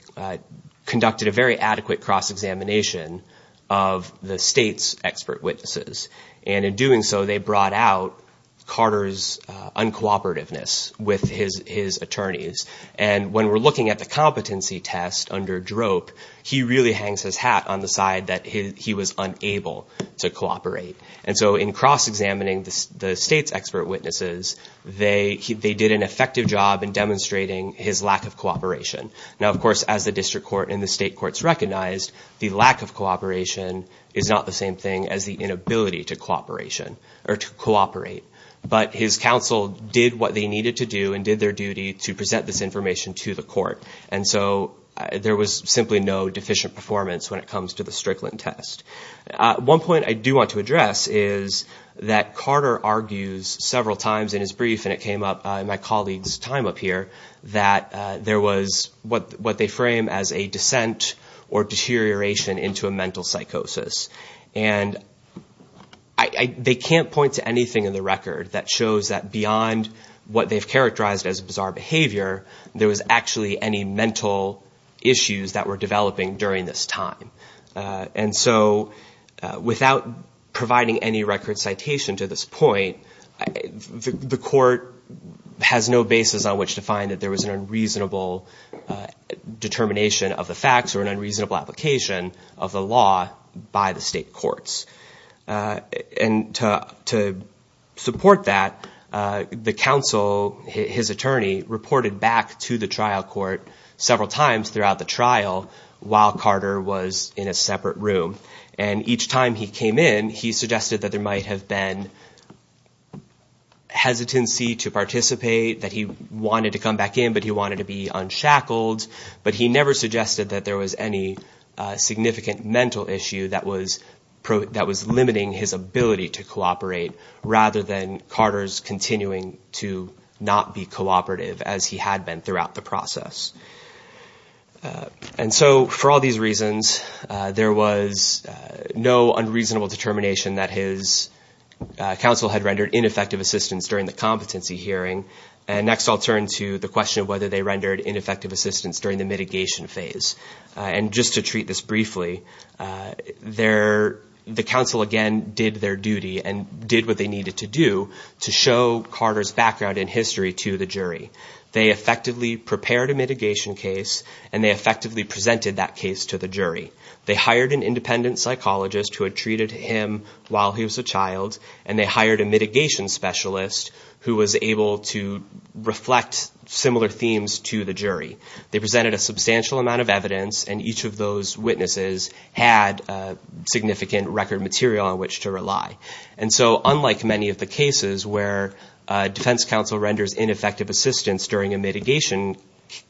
conducted a very adequate cross-examination of the state's expert witnesses. And in doing so, they brought out Carter's uncooperativeness with his attorneys. And when we're looking at the competency test under Drope, he really hangs his hat on the side that he was unable to cooperate. And so in cross-examining the state's expert witnesses, they did an effective job in demonstrating his lack of cooperation. Now, of course, as the district court and the state courts recognized, the lack of cooperation is not the same thing as the inability to cooperate. But his counsel did what they needed to do and did their duty to present this information to the court. And so there was simply no deficient performance when it comes to the Strickland test. One point I do want to address is that Carter argues several times in his brief, and it came up in my colleague's time up here, that there was what they frame as a dissent or deterioration into a mental psychosis. And they can't point to anything in the record that shows that beyond what they've characterized as bizarre behavior, there was actually any mental issues that were developing during this time. And so without providing any record citation to this point, the court has no basis on which to find out that there was an unreasonable determination of the facts or an unreasonable application of the law by the state courts. And to support that, the counsel, his attorney, reported back to the trial court several times throughout the trial while Carter was in a separate room. And each time he came in, he suggested that there might have been hesitancy to participate, that he wanted to come back in, but he wanted to be unshackled. But he never suggested that there was any significant mental issue that was limiting his ability to cooperate rather than Carter's continuing to not be cooperative as he had been throughout the process. And so for all these reasons, there was no unreasonable determination that his counsel had rendered ineffective assistance during the competency hearing. And next I'll turn to the question of whether they rendered ineffective assistance during the mitigation phase. And just to treat this briefly, the counsel again did their duty and did what they needed to do to show Carter's background in history to the jury. They effectively prepared a mitigation case and they effectively presented that case to the jury. They hired an independent psychologist who had treated him while he was a child, and they hired a mitigation specialist who was able to reflect similar themes to the jury. They presented a substantial amount of evidence and each of those witnesses had significant record material on which to rely. And so unlike many of the cases where defense counsel renders ineffective assistance during a mitigation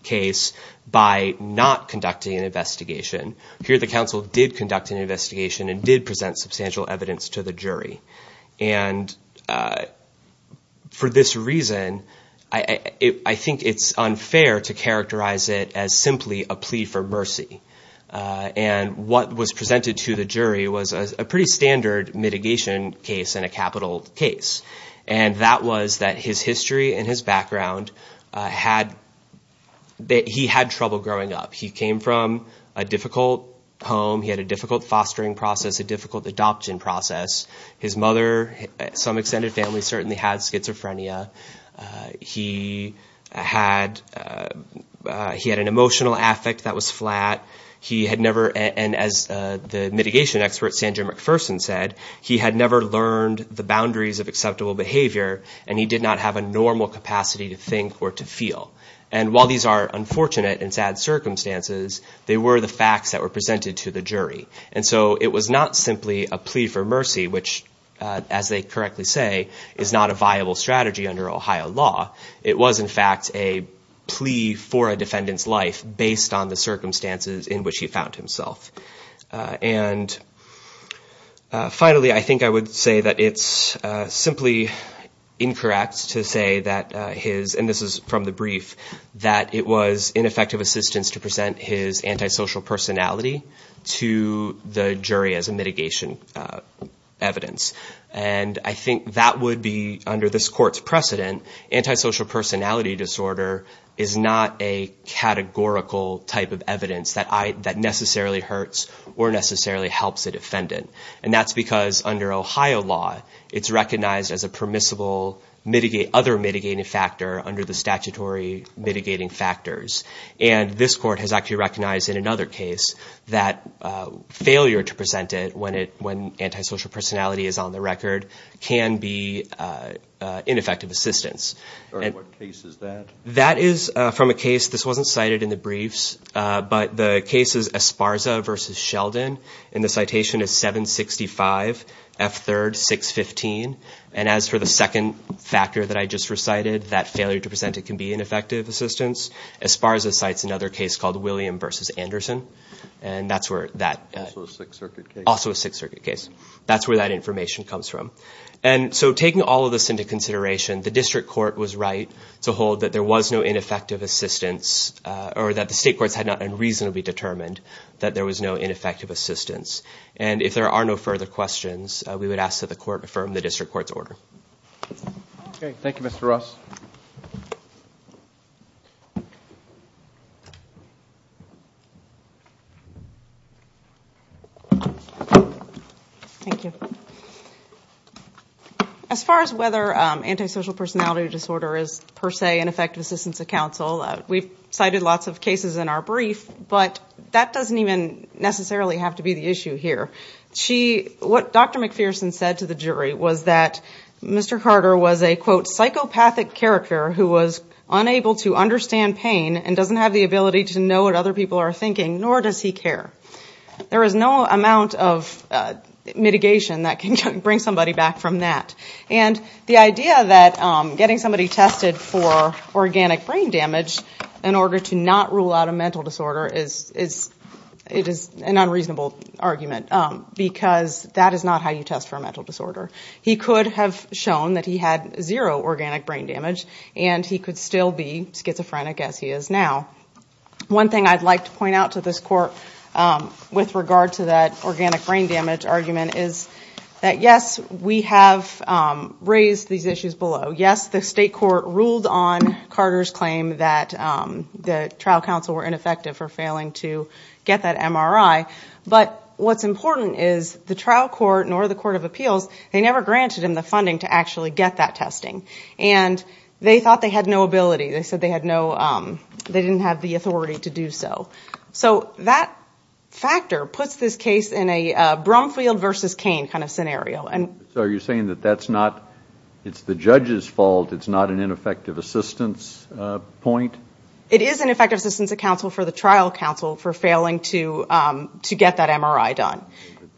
case by not conducting an investigation, here the counsel did conduct an investigation and did present substantial evidence to the jury. And for this reason, I think it's unfair to characterize it as simply a plea for mercy. And what was presented to the jury was a pretty standard mitigation case and a capital case. And that was that his history and his background had that he had trouble growing up. He came from a difficult home. He had a difficult fostering process, a difficult adoption process. His mother, some extended family certainly had schizophrenia. He had an emotional affect that was flat. He had never, and as the mitigation expert Sandra McPherson said, he had never learned the boundaries of acceptable behavior and he did not have a normal capacity to think or to feel. And while these are unfortunate and sad circumstances, they were the facts that were presented to the jury. And so it was not simply a plea for mercy which, as they correctly say, is not a viable strategy under Ohio law. It was in fact a plea for a defendant's life based on the circumstances in which he found himself. And finally, I think I would say that it's simply incorrect to say that his, and this is from the brief, that it was ineffective assistance to present his antisocial personality to the jury as a mitigation evidence. And I think that would be, under this court's precedent, antisocial personality disorder is not a categorical type of evidence that necessarily hurts or necessarily helps a defendant. And that's because under Ohio law, it's recognized as a permissible other mitigating factor under the statutory mitigating factors. And this court has actually recognized in another case that failure to present it when antisocial personality is on the record can be ineffective assistance. What case is that? That is from a case, this wasn't cited in the briefs, but the case is Esparza v. Sheldon and the citation is 765 F. 3rd. 615. And as for the second factor that I just recited, that failure to present it can be ineffective assistance. Esparza cites another case called William v. Anderson. And that's where that... Also a Sixth Circuit case. That's where that information comes from. And so taking all of this into consideration, the district court was right to hold that there was no ineffective assistance or that the state courts had not unreasonably determined that there was no ineffective assistance. And if there are no further questions, we would ask that the court affirm the district court's order. Thank you, Mr. Ross. As far as whether antisocial personality disorder is per se an effective assistance to counsel, we've cited lots of cases in our brief, but that doesn't even necessarily have to be the issue here. What Dr. McPherson said to the jury was that Mr. Carter was a, quote, psychopathic character who was unable to understand pain and doesn't have the ability to know what other people are thinking, nor does he care. There is no amount of mitigation that can bring somebody back from that. And the idea that getting somebody tested for organic brain damage in order to not rule out a mental disorder is an unreasonable argument because that is not how you test for a mental disorder. He could have shown that he had zero organic brain damage and he could still be schizophrenic as he is now. One thing I'd like to point out to this court with regard to that organic brain damage argument is that, yes, we have raised these issues below. Yes, the state court ruled in favor of organic brain damage, ruled on Carter's claim that the trial counsel were ineffective for failing to get that MRI, but what's important is the trial court, nor the court of appeals, they never granted him the funding to actually get that testing. And they thought they had no ability. They said they didn't have the authority to do so. So that factor puts this case in a Brumfield versus Cain kind of scenario. So are you saying that it's the judge's fault, it's not an ineffective assistance point? It is an ineffective assistance for the trial counsel for failing to get that MRI done.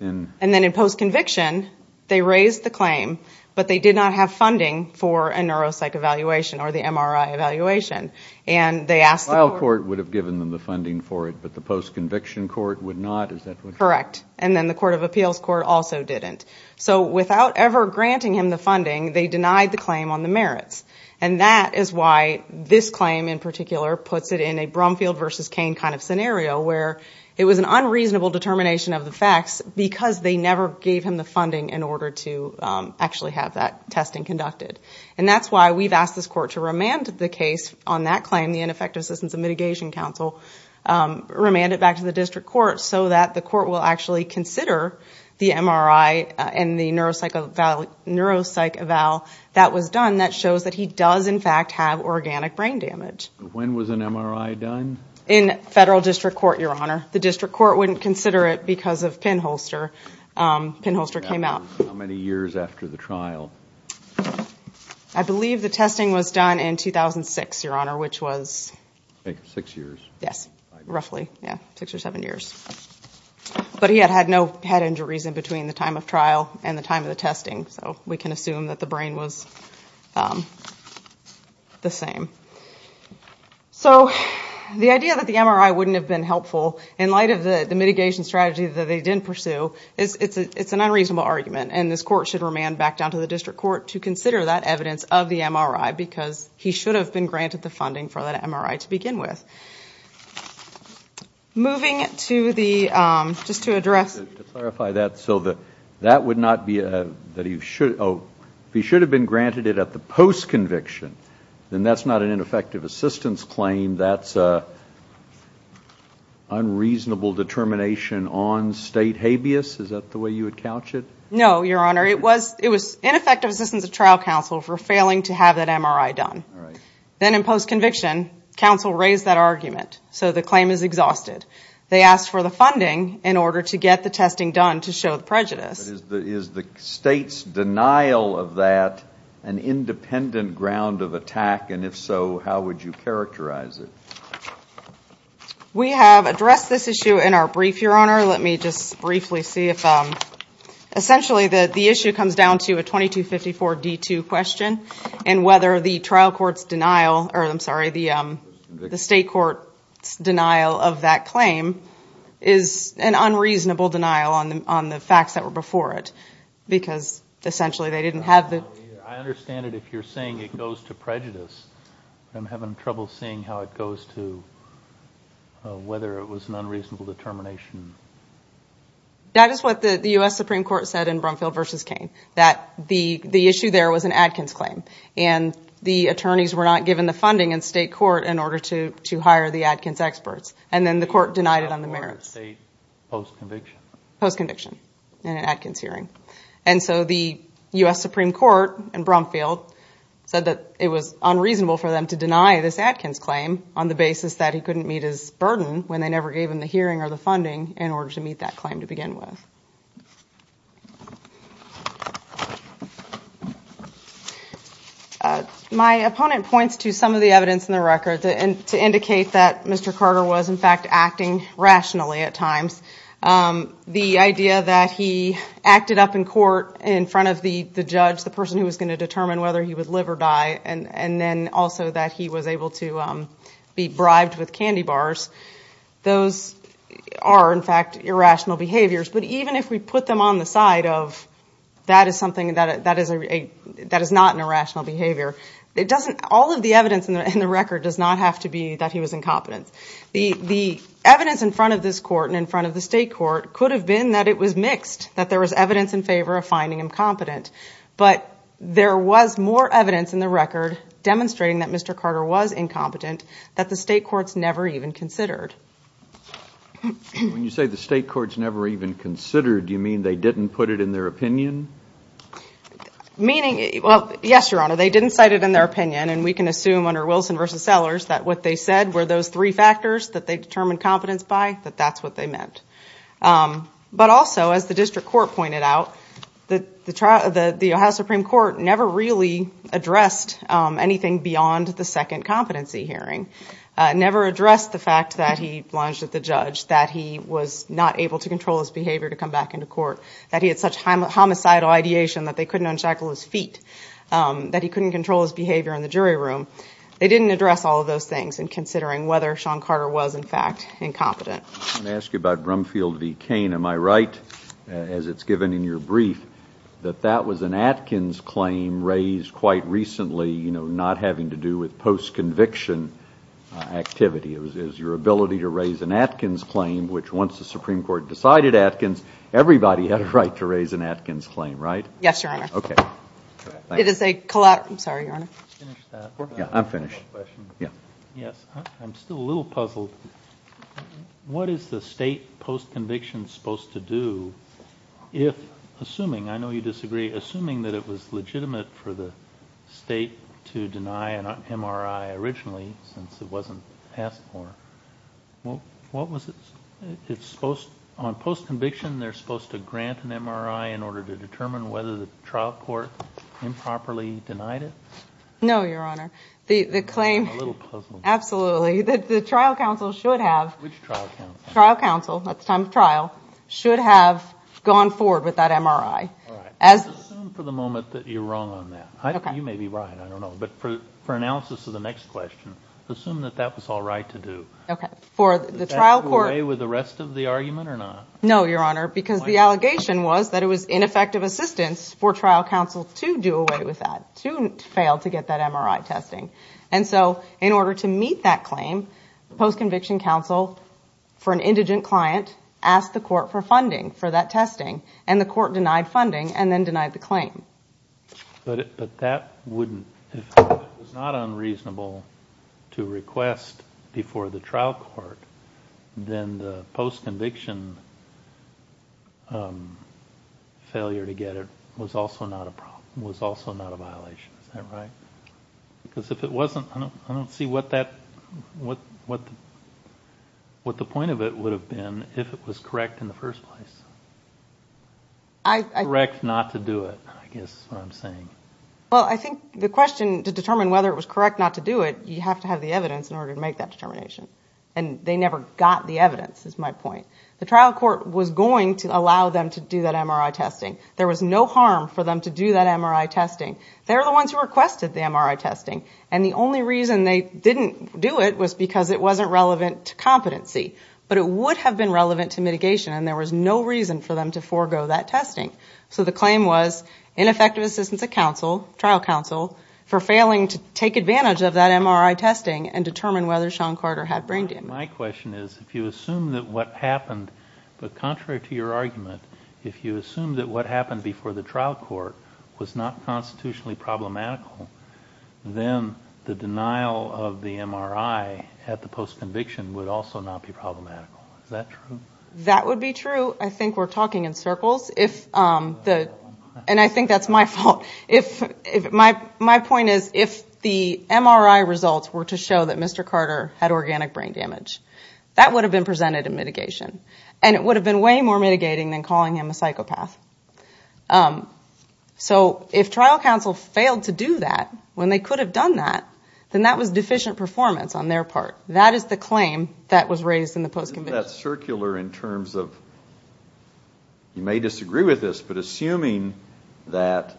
And then in post-conviction, they raised the claim, but they did not have funding for a neuropsych evaluation or the MRI evaluation. The trial court would have given them the funding for it, but the post-conviction court would not? Correct. And then the court of appeals court also didn't. So without ever granting him the funding, they denied the claim on the merits. And that is why this claim in particular puts it in a Brumfield versus Cain kind of scenario where it was an unreasonable determination of the facts because they never gave him the funding in order to actually have that testing conducted. And that's why we've asked this court to remand the case on that claim, the Ineffective Assistance and Mitigation Counsel, remand it back to the district court so that the court will actually consider the MRI and the neuropsych eval that was done that shows that he does in fact have organic brain damage. When was an MRI done? In federal district court, Your Honor. The district court wouldn't consider it because of pinholster. Pinholster came out. How many years after the trial? I believe the testing was done in 2006, Your Honor, which was... Six years. Yes, roughly, six or seven years. But he had no head injuries in between the time of trial and the time of the testing, so we can assume that the brain was the same. So the idea that the MRI wouldn't have been helpful in light of the mitigation strategy that they didn't pursue, it's an unreasonable argument, and this court should remand back down to the district court to consider that evidence of the MRI because he should have been granted the funding for that MRI to begin with. Moving to the... Just to clarify that, so that would not be... If he should have been granted it at the post-conviction, then that's not an ineffective assistance claim. That's an unreasonable determination on state habeas? Is that the way you would couch it? No, Your Honor, it was ineffective assistance of trial counsel for failing to have that MRI done. Then in post-conviction, counsel raised that argument, so the claim is exhausted. They asked for the funding in order to get the testing done to show the prejudice. Is the state's denial of that an independent ground of attack, and if so, how would you characterize it? We have addressed this issue in our brief, Your Honor. Let me just briefly see if... Essentially, the issue comes down to a 2254-D2 question and whether the trial court's denial... I'm sorry, the state court's denial of that claim is an unreasonable denial on the facts that were before it, because essentially they didn't have the... I understand it if you're saying it goes to prejudice, but I'm having trouble seeing how it goes to... whether it was an unreasonable determination. That is what the U.S. Supreme Court said in Brumfield v. Cain, that the issue there was an Adkins claim, and the attorneys were not given the funding in state court in order to hire the Adkins experts, and then the court denied it on the merits. Post-conviction in an Adkins hearing. And so the U.S. Supreme Court in Brumfield said that it was unreasonable for them to deny this Adkins claim on the basis that he couldn't meet his burden when they never gave him the hearing or the funding in order to meet that claim to begin with. My opponent points to some of the evidence in the record to indicate that Mr. Carter was in fact acting rationally at times. The idea that he acted up in court in front of the judge, the person who was going to determine whether he would live or die, and then also that he was able to be bribed with candy bars, those are in fact irrational behaviors. But even if we put them on the side of that is not an irrational behavior, all of the evidence in the record does not have to be that he was incompetent. The evidence in front of this court and in front of the state court could have been that it was mixed, that there was evidence in favor of finding him competent. But there was more evidence in the record demonstrating that Mr. Carter was incompetent that the state courts never even considered. When you say the state courts never even considered, do you mean they didn't put it in their opinion? Yes, Your Honor, they didn't cite it in their opinion, and we can assume under Wilson v. Sellers that what they said were those three factors that they determined competence by, that that's what they meant. But also, as the district court pointed out, the Ohio Supreme Court never really addressed anything beyond the second competency hearing. It never addressed the fact that he lunged at the judge, that he was not able to control his behavior to come back into court, that he had such homicidal ideation that they couldn't unshackle his feet, that he couldn't control his behavior in the jury room. They didn't address all of those things in considering whether Sean Carter was, in fact, incompetent. I want to ask you about Brumfield v. Cain. Am I right, as it's given in your brief, that that was an Atkins claim raised quite recently, not having to do with post-conviction activity? It was your ability to raise an Atkins claim, which once the Supreme Court decided Atkins, everybody had a right to raise an Atkins claim, right? Yes, Your Honor. I'm sorry, Your Honor. I'm finished. I'm still a little puzzled. What is the state post-conviction supposed to do if, assuming, I know you disagree, assuming that it was legitimate for the state to deny an MRI originally, since it wasn't passed before, what was it supposed, on post-conviction, they're supposed to grant an MRI in order to determine whether the trial court improperly denied it? No, Your Honor. I'm a little puzzled. The trial counsel should have, at the time of trial, should have gone forward with that MRI. Let's assume for the moment that you're wrong on that. You may be right, I don't know, but for analysis of the next question, assume that that was all right to do. Did that do away with the rest of the argument or not? No, Your Honor, because the allegation was that it was ineffective assistance for trial counsel to do away with that, to fail to get that MRI testing. And so, in order to meet that claim, post-conviction counsel, for an indigent client, asked the court for funding for that testing, and the court denied funding and then denied the claim. But that wouldn't, if it was not unreasonable to request before the trial court, then the post-conviction failure to get it was also not a violation, is that right? Because if it wasn't, I don't see what the point of it would have been if it was correct in the first place. Correct not to do it, I guess is what I'm saying. Well, I think the question, to determine whether it was correct not to do it, you have to have the evidence in order to make that determination. And they never got the evidence, is my point. The trial court was going to allow them to do that MRI testing. There was no harm for them to do that MRI testing. They're the ones who requested the MRI testing, and the only reason they didn't do it was because it wasn't relevant to competency. But it would have been relevant to mitigation, and there was no reason for them to forego that testing. So the claim was ineffective assistance of trial counsel for failing to take advantage of that MRI testing and determine whether Sean Carter had brain damage. My question is, if you assume that what happened, but contrary to your argument, if you assume that what happened before the trial court was not constitutionally problematical, then the denial of the MRI at the post-conviction would also not be problematical. Is that true? That would be true. I think we're talking in circles. And I think that's my fault. My point is, if the MRI results were to show that Mr. Carter had organic brain damage, that would have been presented in mitigation. And it would have been way more mitigating than calling him a psychopath. So if trial counsel failed to do that when they could have done that, then that was deficient performance on their part. That is the claim that was raised in the post-conviction. Isn't that circular in terms of, you may disagree with this, but assuming that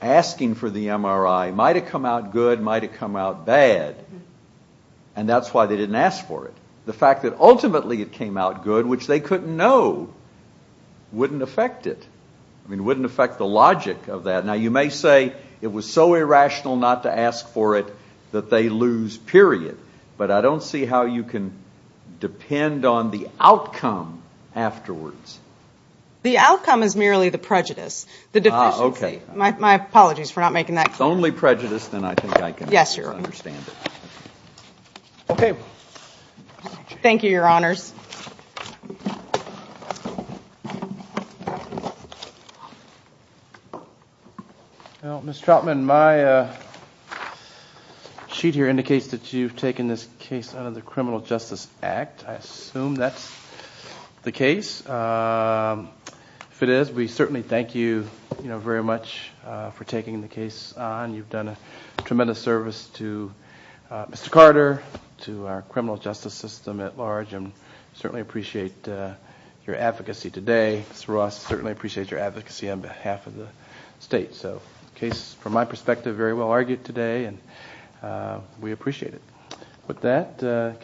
asking for the MRI might have come out good, might have come out bad, and that's why they didn't ask for it. The fact that ultimately it came out good, which they couldn't know, wouldn't affect it. I mean, it wouldn't affect the logic of that. Now, you may say it was so irrational not to ask for it that they lose, period. But I don't see how you can depend on the outcome afterwards. The outcome is merely the prejudice. The deficiency. My apologies for not making that clear. If it's only prejudice, then I think I can understand it. Okay. Thank you, Your Honors. Well, Ms. Troutman, my sheet here indicates that you've taken this case under the Criminal Justice Act. I assume that's the case. If it is, we certainly thank you very much for taking the case on. You've done a tremendous service to Mr. Carter, to our criminal justice system at large, and certainly appreciate your advocacy today. Mr. Ross certainly appreciates your advocacy on behalf of the state. So the case, from my perspective, very well argued today, With that, can we close?